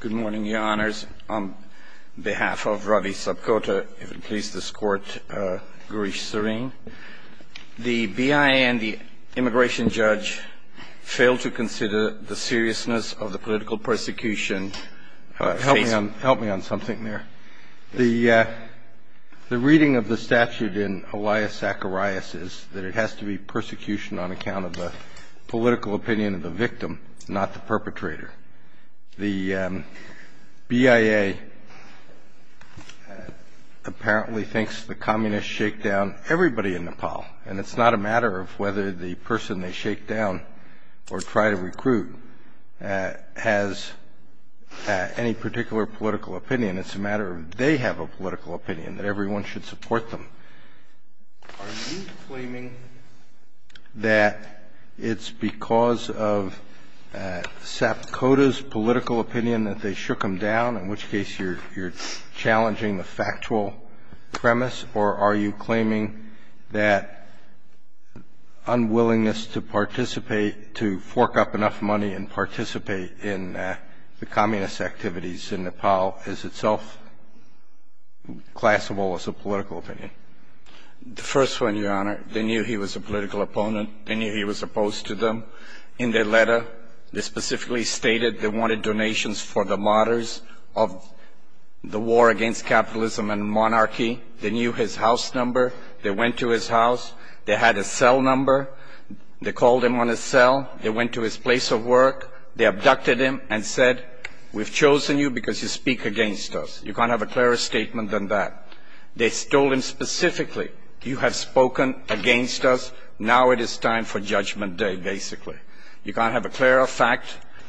Good morning, Your Honors. On behalf of Ravi Sapkota, if it pleases this Court, Gaurish Sareen, the BIA and the Immigration Judge fail to consider the seriousness of the political persecution. Help me on something there. The reading of the statute in Elias Zacharias is that it has to be persecution on account of the political opinion of the victim, not the perpetrator. The BIA apparently thinks the communists shakedown everybody in Nepal, and it's not a matter of whether the person they shakedown or try to recruit has any particular political opinion. It's a matter of they have a political opinion that everyone should support them. Are you claiming that it's because of Sapkota's political opinion that they shook him down, in which case you're challenging the factual premise? Or are you claiming that unwillingness to participate, to fork up enough money and participate in the communist activities in Nepal is itself classifiable as a political opinion? The first one, Your Honor, they knew he was a political opponent. They knew he was opposed to them. In their letter, they specifically stated they wanted donations for the martyrs of the war against capitalism and monarchy. They knew his house number. They went to his house. They had his cell number. They called him on his cell. They went to his place of work. They abducted him and said, we've chosen you because you speak against us. You can't have a clearer statement than that. They stole him specifically. You have spoken against us. Now it is time for judgment day, basically. You can't have a clearer fact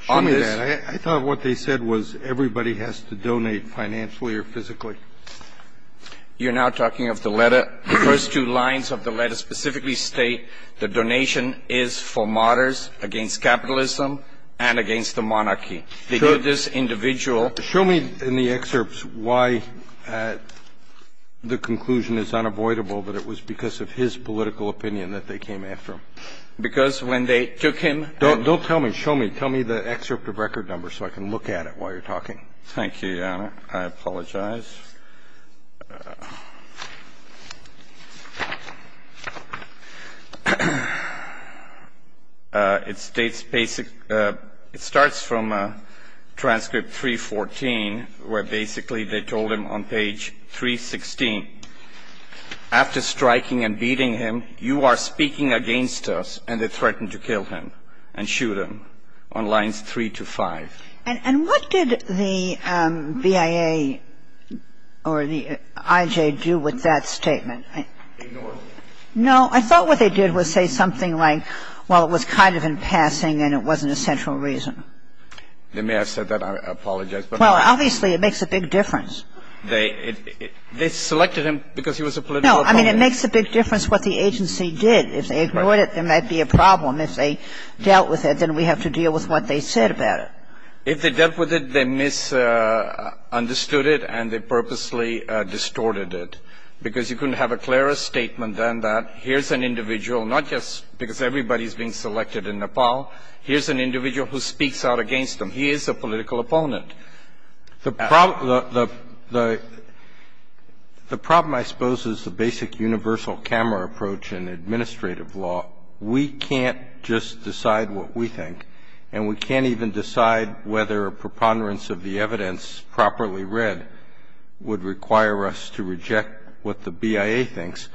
on this. Show me that. I thought what they said was everybody has to donate financially or physically. You're now talking of the letter. The first two lines of the letter specifically state the donation is for martyrs against capitalism and against the monarchy. They knew this individual. Show me in the excerpts why the conclusion is unavoidable that it was because of his political opinion that they came after him. Because when they took him and Don't tell me. Show me. Tell me the excerpt of record number so I can look at it while you're talking. Thank you, Your Honor. I apologize. It starts from transcript 314 where basically they told him on page 316, after striking and beating him, you are speaking against us and they threatened to kill him and shoot him on lines 3 to 5. And what did the BIA or the IJ do with that statement? Ignored it. No. I thought what they did was say something like, well, it was kind of in passing and it wasn't a central reason. Then may I have said that? I apologize. Well, obviously it makes a big difference. They selected him because he was a political opponent. No. I mean, it makes a big difference what the agency did. If they ignored it, there might be a problem. If they dealt with it, then we have to deal with what they said about it. If they dealt with it, they misunderstood it and they purposely distorted it because you couldn't have a clearer statement than that. Here's an individual, not just because everybody's being selected in Nepal. Here's an individual who speaks out against them. He is a political opponent. The problem I suppose is the basic universal camera approach in administrative law. We can't just decide what we think and we can't even decide whether a preponderance of the evidence properly read would require us to reject what the BIA thinks.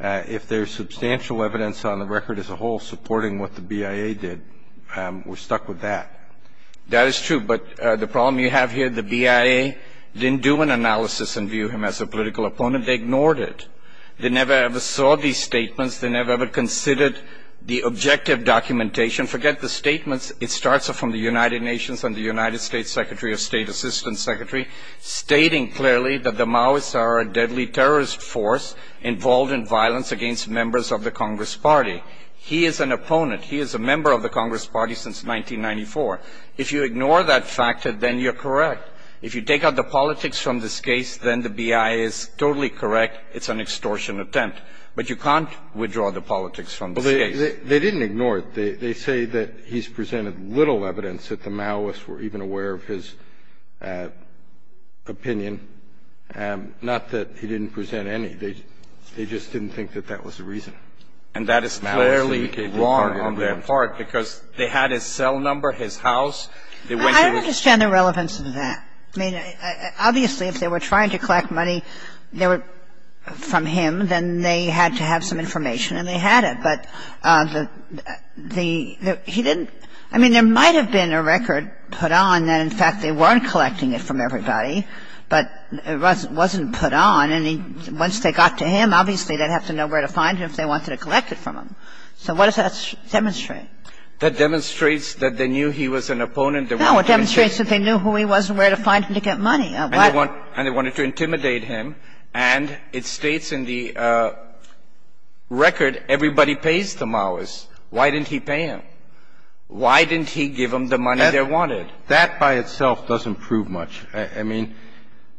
If there's substantial evidence on the record as a whole supporting what the BIA did, we're stuck with that. That is true, but the problem you have here, the BIA didn't do an analysis and view him as a political opponent. They ignored it. They never ever saw these statements. They never ever considered the objective documentation. Forget the statements. It starts from the United Nations and the United States Secretary of State, Assistant Secretary, stating clearly that the Maoists are a deadly terrorist force involved in violence against members of the Congress Party. He is an opponent. He is a member of the Congress Party since 1994. If you ignore that fact, then you're correct. If you take out the politics from this case, then the BIA is totally correct. It's an extortion attempt. But you can't withdraw the politics from this case. They didn't ignore it. They say that he's presented little evidence that the Maoists were even aware of his opinion. Not that he didn't present any. They just didn't think that that was the reason. And that is clearly wrong on their part, because they had his cell number, his house. They went to his -- I don't understand the relevance of that. I mean, obviously, if they were trying to collect money from him, then they had to have some information, and they had it. But he didn't -- I mean, there might have been a record put on that, in fact, they weren't collecting it from everybody, but it wasn't put on. I don't understand the relevance of that. I mean, if they were trying to collect money from him, then they had to have some information, and once they got to him, obviously, they'd have to know where to find him if they wanted to collect it from him. So what does that demonstrate? That demonstrates that they knew he was an opponent. No. It demonstrates that they knew who he was and where to find him to get money. And they wanted to intimidate him. And it states in the record, everybody pays the Mowers. Why didn't he pay them? Why didn't he give them the money they wanted? That by itself doesn't prove much. I mean,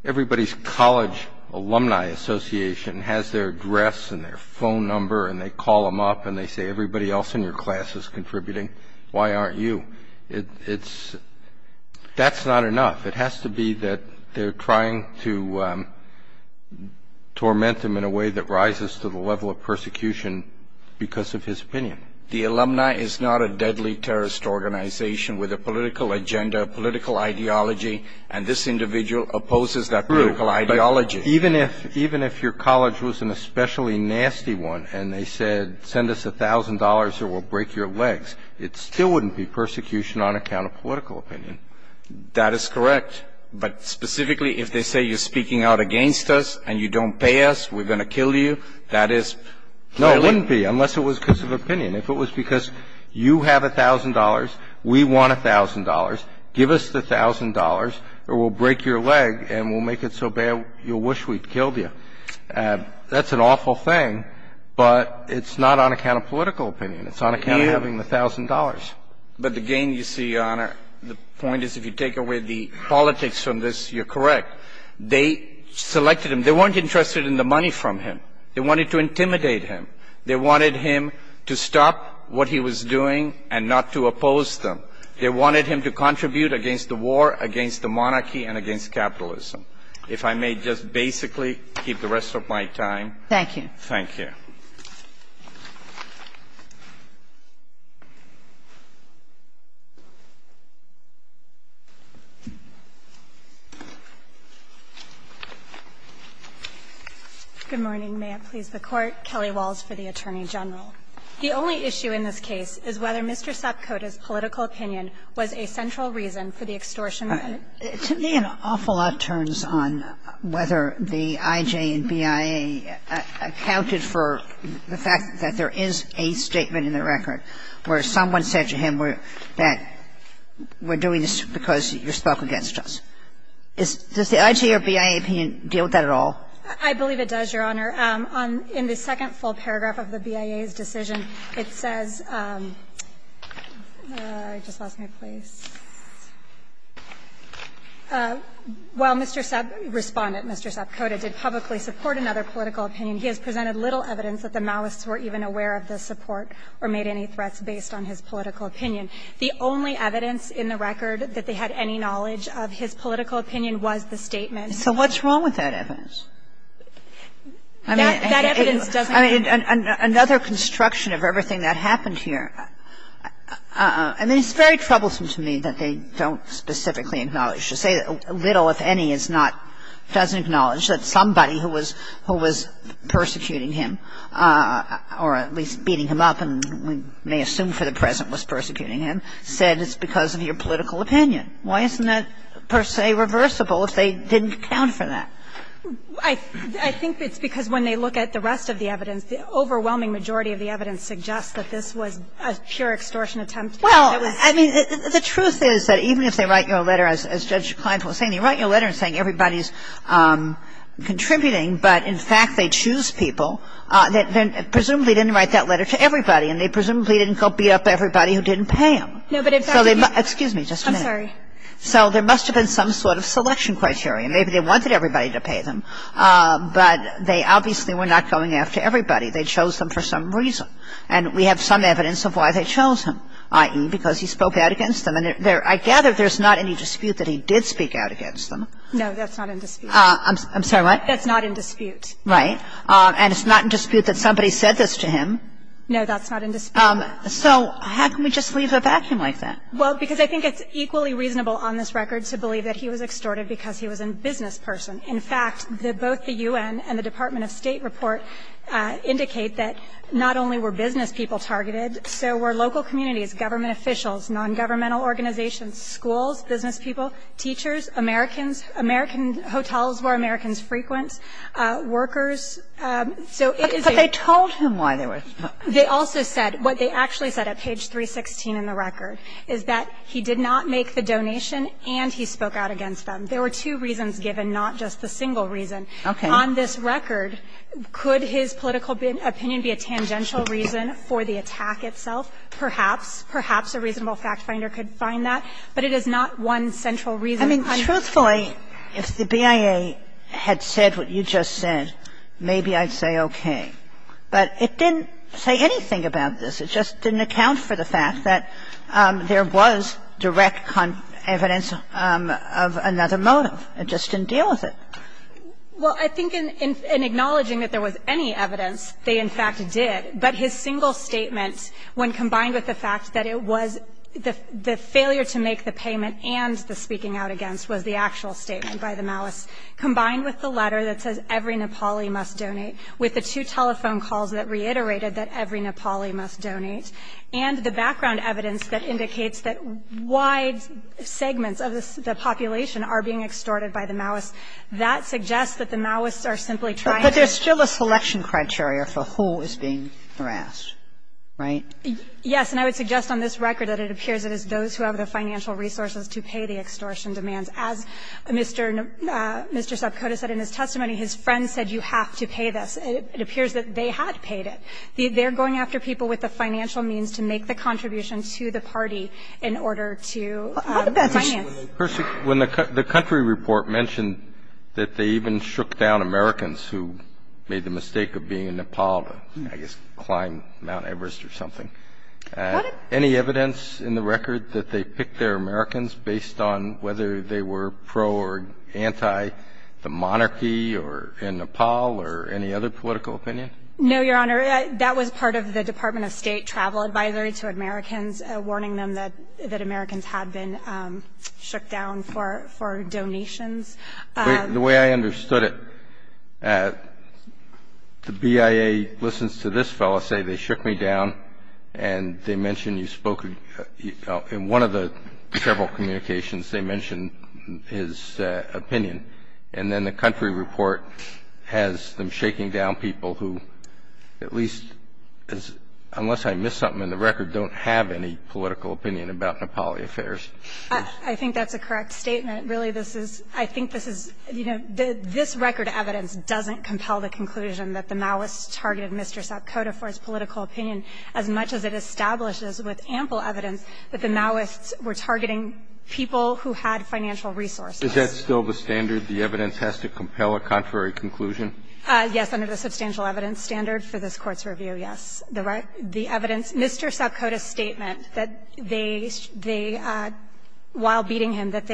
everybody's college alumni association has their address and their phone number, and they call them up and they say, everybody else in your class is contributing. Why aren't you? It's – that's not enough. It has to be that they're trying to torment him in a way that rises to the level of persecution because of his opinion. The alumni is not a deadly terrorist organization with a political agenda, political ideology, and this individual opposes that political ideology. Even if your college was an especially nasty one and they said, send us $1,000 or we'll break your legs, it still wouldn't be persecution on account of political opinion. That is correct. But specifically if they say you're speaking out against us and you don't pay us, we're going to kill you, that is clearly – No, it wouldn't be unless it was because of opinion. If it was because you have $1,000, we want $1,000, give us the $1,000 or we'll break your leg and we'll make it so bad you'll wish we'd killed you. That's an awful thing, but it's not on account of political opinion. It's on account of having the $1,000. But the gain, you see, Your Honor, the point is if you take away the politics from this, you're correct. They selected him. They weren't interested in the money from him. They wanted to intimidate him. They wanted him to stop what he was doing and not to oppose them. They wanted him to contribute against the war, against the monarchy, and against capitalism. If I may just basically keep the rest of my time. Thank you. Thank you. Kagan. Good morning. May it please the Court. Kelly Walls for the Attorney General. The only issue in this case is whether Mr. Sapkota's political opinion was a central reason for the extortion. To me, an awful lot turns on whether the IJ and BIA accounted for the fact that there is a statement in the record where someone said to him that we're doing this because you're stuck against us. Does the IJ or BIA opinion deal with that at all? I believe it does, Your Honor. In the second full paragraph of the BIA's decision, it says – I just lost my place. While Mr. Sapkota, Respondent Mr. Sapkota, did publicly support another political opinion, he has presented little evidence that the Maoists were even aware of the support or made any threats based on his political opinion. The only evidence in the record that they had any knowledge of his political opinion was the statement. So what's wrong with that evidence? I mean, that evidence doesn't help. I mean, another construction of everything that happened here. I mean, it's very troublesome to me that they don't specifically acknowledge or say little, if any, is not – doesn't acknowledge that somebody who was – who was persecuting him, or at least beating him up and we may assume for the present was persecuting him, said it's because of your political opinion. Why isn't that per se reversible if they didn't account for that? I think it's because when they look at the rest of the evidence, the overwhelming majority of the evidence suggests that this was a pure extortion attempt. It was – Well, I mean, the truth is that even if they write you a letter, as Judge Kleinfeld was saying, they write you a letter saying everybody's contributing, but in fact they choose people, then presumably they didn't write that letter to everybody and they presumably didn't beat up everybody who didn't pay them. No, but it's actually – Excuse me just a minute. I'm sorry. So there must have been some sort of selection criteria. Maybe they wanted everybody to pay them, but they obviously were not going after everybody. They chose them for some reason, and we have some evidence of why they chose him, i.e., because he spoke out against them. And I gather there's not any dispute that he did speak out against them. No, that's not in dispute. I'm sorry, what? That's not in dispute. Right. And it's not in dispute that somebody said this to him. No, that's not in dispute. So how can we just leave a vacuum like that? Well, because I think it's equally reasonable on this record to believe that he was extorted because he was a business person. In fact, both the U.N. and the Department of State report indicate that not only were business people targeted, so were local communities, government officials, nongovernmental organizations, schools, business people, teachers, Americans, American hotels where Americans frequent, workers, so it is a – But they told him why they were – They also said what they actually said at page 316 in the record, is that he did not make the donation and he spoke out against them. There were two reasons given, not just the single reason. Okay. On this record, could his political opinion be a tangential reason for the attack itself? Perhaps. Perhaps a reasonable factfinder could find that. But it is not one central reason. I mean, truthfully, if the BIA had said what you just said, maybe I'd say okay. But it didn't say anything about this. It just didn't account for the fact that there was direct evidence of another motive. It just didn't deal with it. Well, I think in acknowledging that there was any evidence, they in fact did. But his single statement, when combined with the fact that it was the failure to make the payment and the speaking out against was the actual statement by the malice, combined with the letter that says every Nepali must donate, with the two telephone calls that reiterated that every Nepali must donate, and the background evidence that indicates that wide segments of the population are being extorted by the malice, that suggests that the malice are simply trying to. But there's still a selection criteria for who is being harassed, right? Yes. And I would suggest on this record that it appears it is those who have the financial resources to pay the extortion demands. As Mr. Subcota said in his testimony, his friends said you have to pay this. It appears that they had paid it. They're going after people with the financial means to make the contribution to the party in order to finance. What about when the country report mentioned that they even shook down Americans who made the mistake of being in Nepal to, I guess, climb Mount Everest or something. What if any evidence in the record that they picked their Americans based on whether they were pro or anti the monarchy or in Nepal or any other political opinion? No, Your Honor. That was part of the Department of State travel advisory to Americans, warning them that Americans had been shook down for donations. The way I understood it, the BIA listens to this fellow say they shook me down, and they mention you spoke in one of the several communications. They mention his opinion, and then the country report has them shaking down people who at least, unless I missed something in the record, don't have any political opinion about Nepali affairs. I think that's a correct statement. Really, this is – I think this is – you know, this record evidence doesn't compel the conclusion that the Maoists targeted Mr. Subcota for his political opinion as much as it establishes with ample evidence that the Maoists were targeting people who had financial resources. Is that still the standard, the evidence has to compel a contrary conclusion? Yes, under the substantial evidence standard for this Court's review, yes. The evidence – Mr. Subcota's statement that they – while beating him, that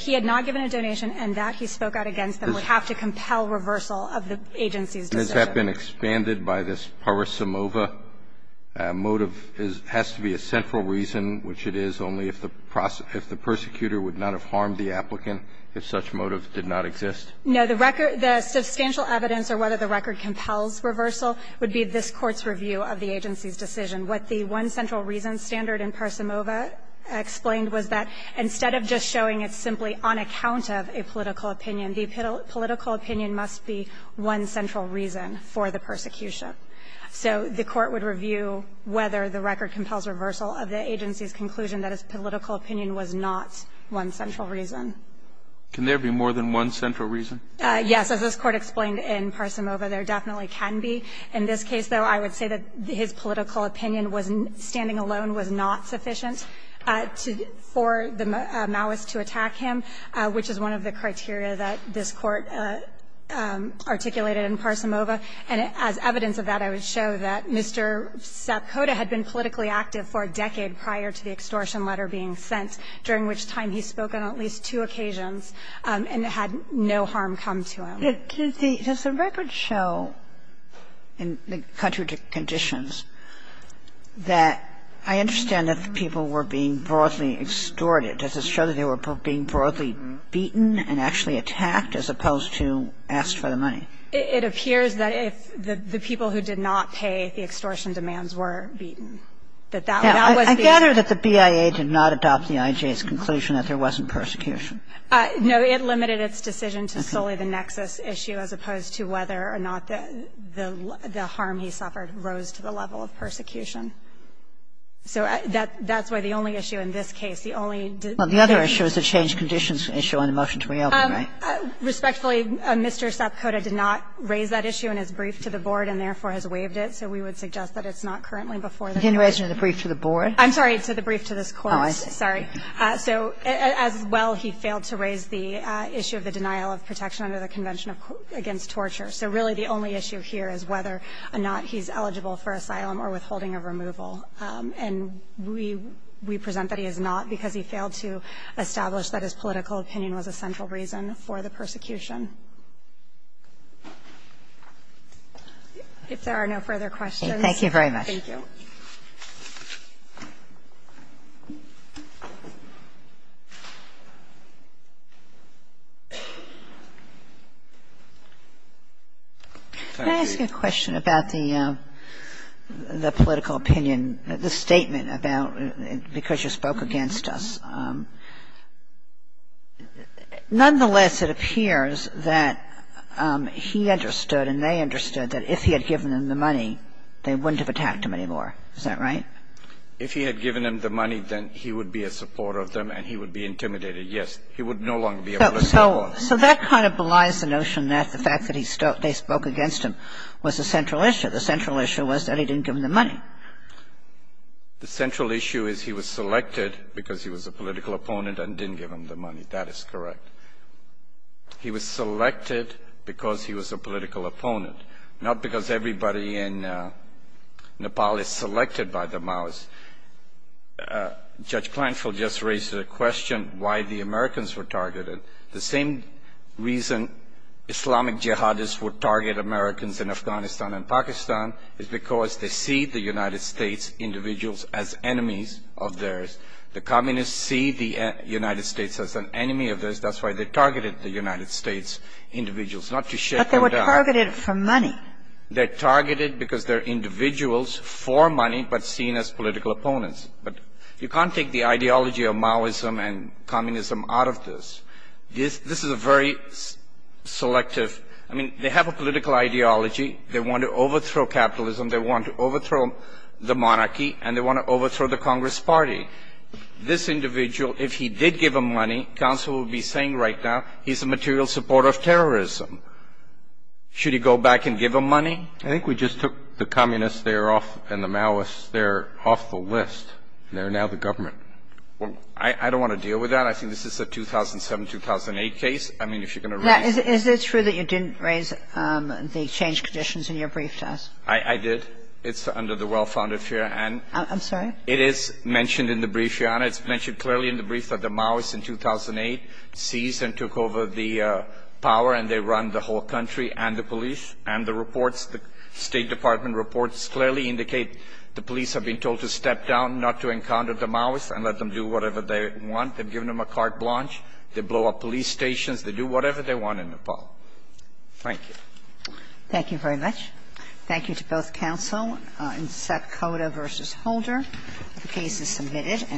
he had not given a donation and that he spoke out against them would have to compel reversal of the agency's decision. And has that been expanded by this Parosimova motive? It has to be a central reason, which it is, only if the – if the persecutor would not have harmed the applicant if such motive did not exist? No. The record – the substantial evidence or whether the record compels reversal would be this Court's review of the agency's decision. What the one central reason standard in Parosimova explained was that instead of just showing it simply on account of a political opinion, the political opinion must be one central reason for the persecution. So the Court would review whether the record compels reversal of the agency's conclusion that his political opinion was not one central reason. Can there be more than one central reason? Yes. As this Court explained in Parosimova, there definitely can be. In this case, though, I would say that his political opinion was – standing alone was not sufficient to – for the Maoist to attack him, which is one of the criteria that this Court articulated in Parosimova. And as evidence of that, I would show that Mr. Sapkota had been politically active for a decade prior to the extortion letter being sent, during which time he spoke on at least two occasions and had no harm come to him. Does the – does the record show in the country of conditions that I understand that the people were being broadly extorted? Does it show that they were being broadly beaten and actually attacked as opposed to asked for the money? It appears that if the people who did not pay the extortion demands were beaten. That that was the issue. I gather that the BIA did not adopt the IJ's conclusion that there wasn't persecution. No. It limited its decision to solely the nexus issue as opposed to whether or not the harm he suffered rose to the level of persecution. So that's why the only issue in this case, the only – Well, the other issue is the changed conditions issue on the motion to reopen, right? Respectfully, Mr. Sapkota did not raise that issue in his brief to the board and therefore has waived it. So we would suggest that it's not currently before the committee. He didn't raise it in the brief to the board? I'm sorry, to the brief to this Court. Oh, I see. Sorry. So as well, he failed to raise the issue of the denial of protection under the Convention of – against torture. So really the only issue here is whether or not he's eligible for asylum or withholding of removal. And we – we present that he is not because he failed to establish that his political opinion was a central reason for the persecution. If there are no further questions. Thank you very much. Thank you. Can I ask a question about the political opinion, the statement about because you spoke against us? Nonetheless, it appears that he understood and they understood that if he had given them the money, they wouldn't have attacked him anymore. Is that right? If he had given them the money, then he would be a supporter of them and he would be intimidated, yes. He would no longer be a political boss. So that kind of belies the notion that the fact that he – they spoke against him was a central issue. The central issue was that he didn't give them the money. The central issue is he was selected because he was a political opponent and didn't give them the money. That is correct. He was selected because he was a political opponent, not because everybody in Nepal is selected by the Maoists. Judge Clantrell just raised the question why the Americans were targeted. The same reason Islamic jihadists would target Americans in Afghanistan and Pakistan is because they see the United States individuals as enemies of theirs. The communists see the United States as an enemy of theirs. That's why they targeted the United States individuals, not to shake them down. But they were targeted for money. They're targeted because they're individuals for money but seen as political opponents. But you can't take the ideology of Maoism and communism out of this. This is a very selective – I mean, they have a political ideology. They want to overthrow capitalism. They want to overthrow the monarchy. And they want to overthrow the Congress party. This individual, if he did give them money, counsel would be saying right now, he's a material supporter of terrorism. Should he go back and give them money? I think we just took the communists there off and the Maoists there off the list. They're now the government. Well, I don't want to deal with that. I think this is a 2007, 2008 case. I mean, if you're going to raise it. Is it true that you didn't raise the change conditions in your brief to us? I did. It's under the well-founded fear. I'm sorry? It is mentioned in the brief, Your Honor. It's mentioned clearly in the brief that the Maoists in 2008 seized and took over the power and they run the whole country and the police and the reports. The State Department reports clearly indicate the police have been told to step down, not to encounter the Maoists and let them do whatever they want. They've given them a carte blanche. They blow up police stations. They do whatever they want in Nepal. Thank you. Thank you very much. Thank you to both counsel. In Secoda v. Holder, the case is submitted.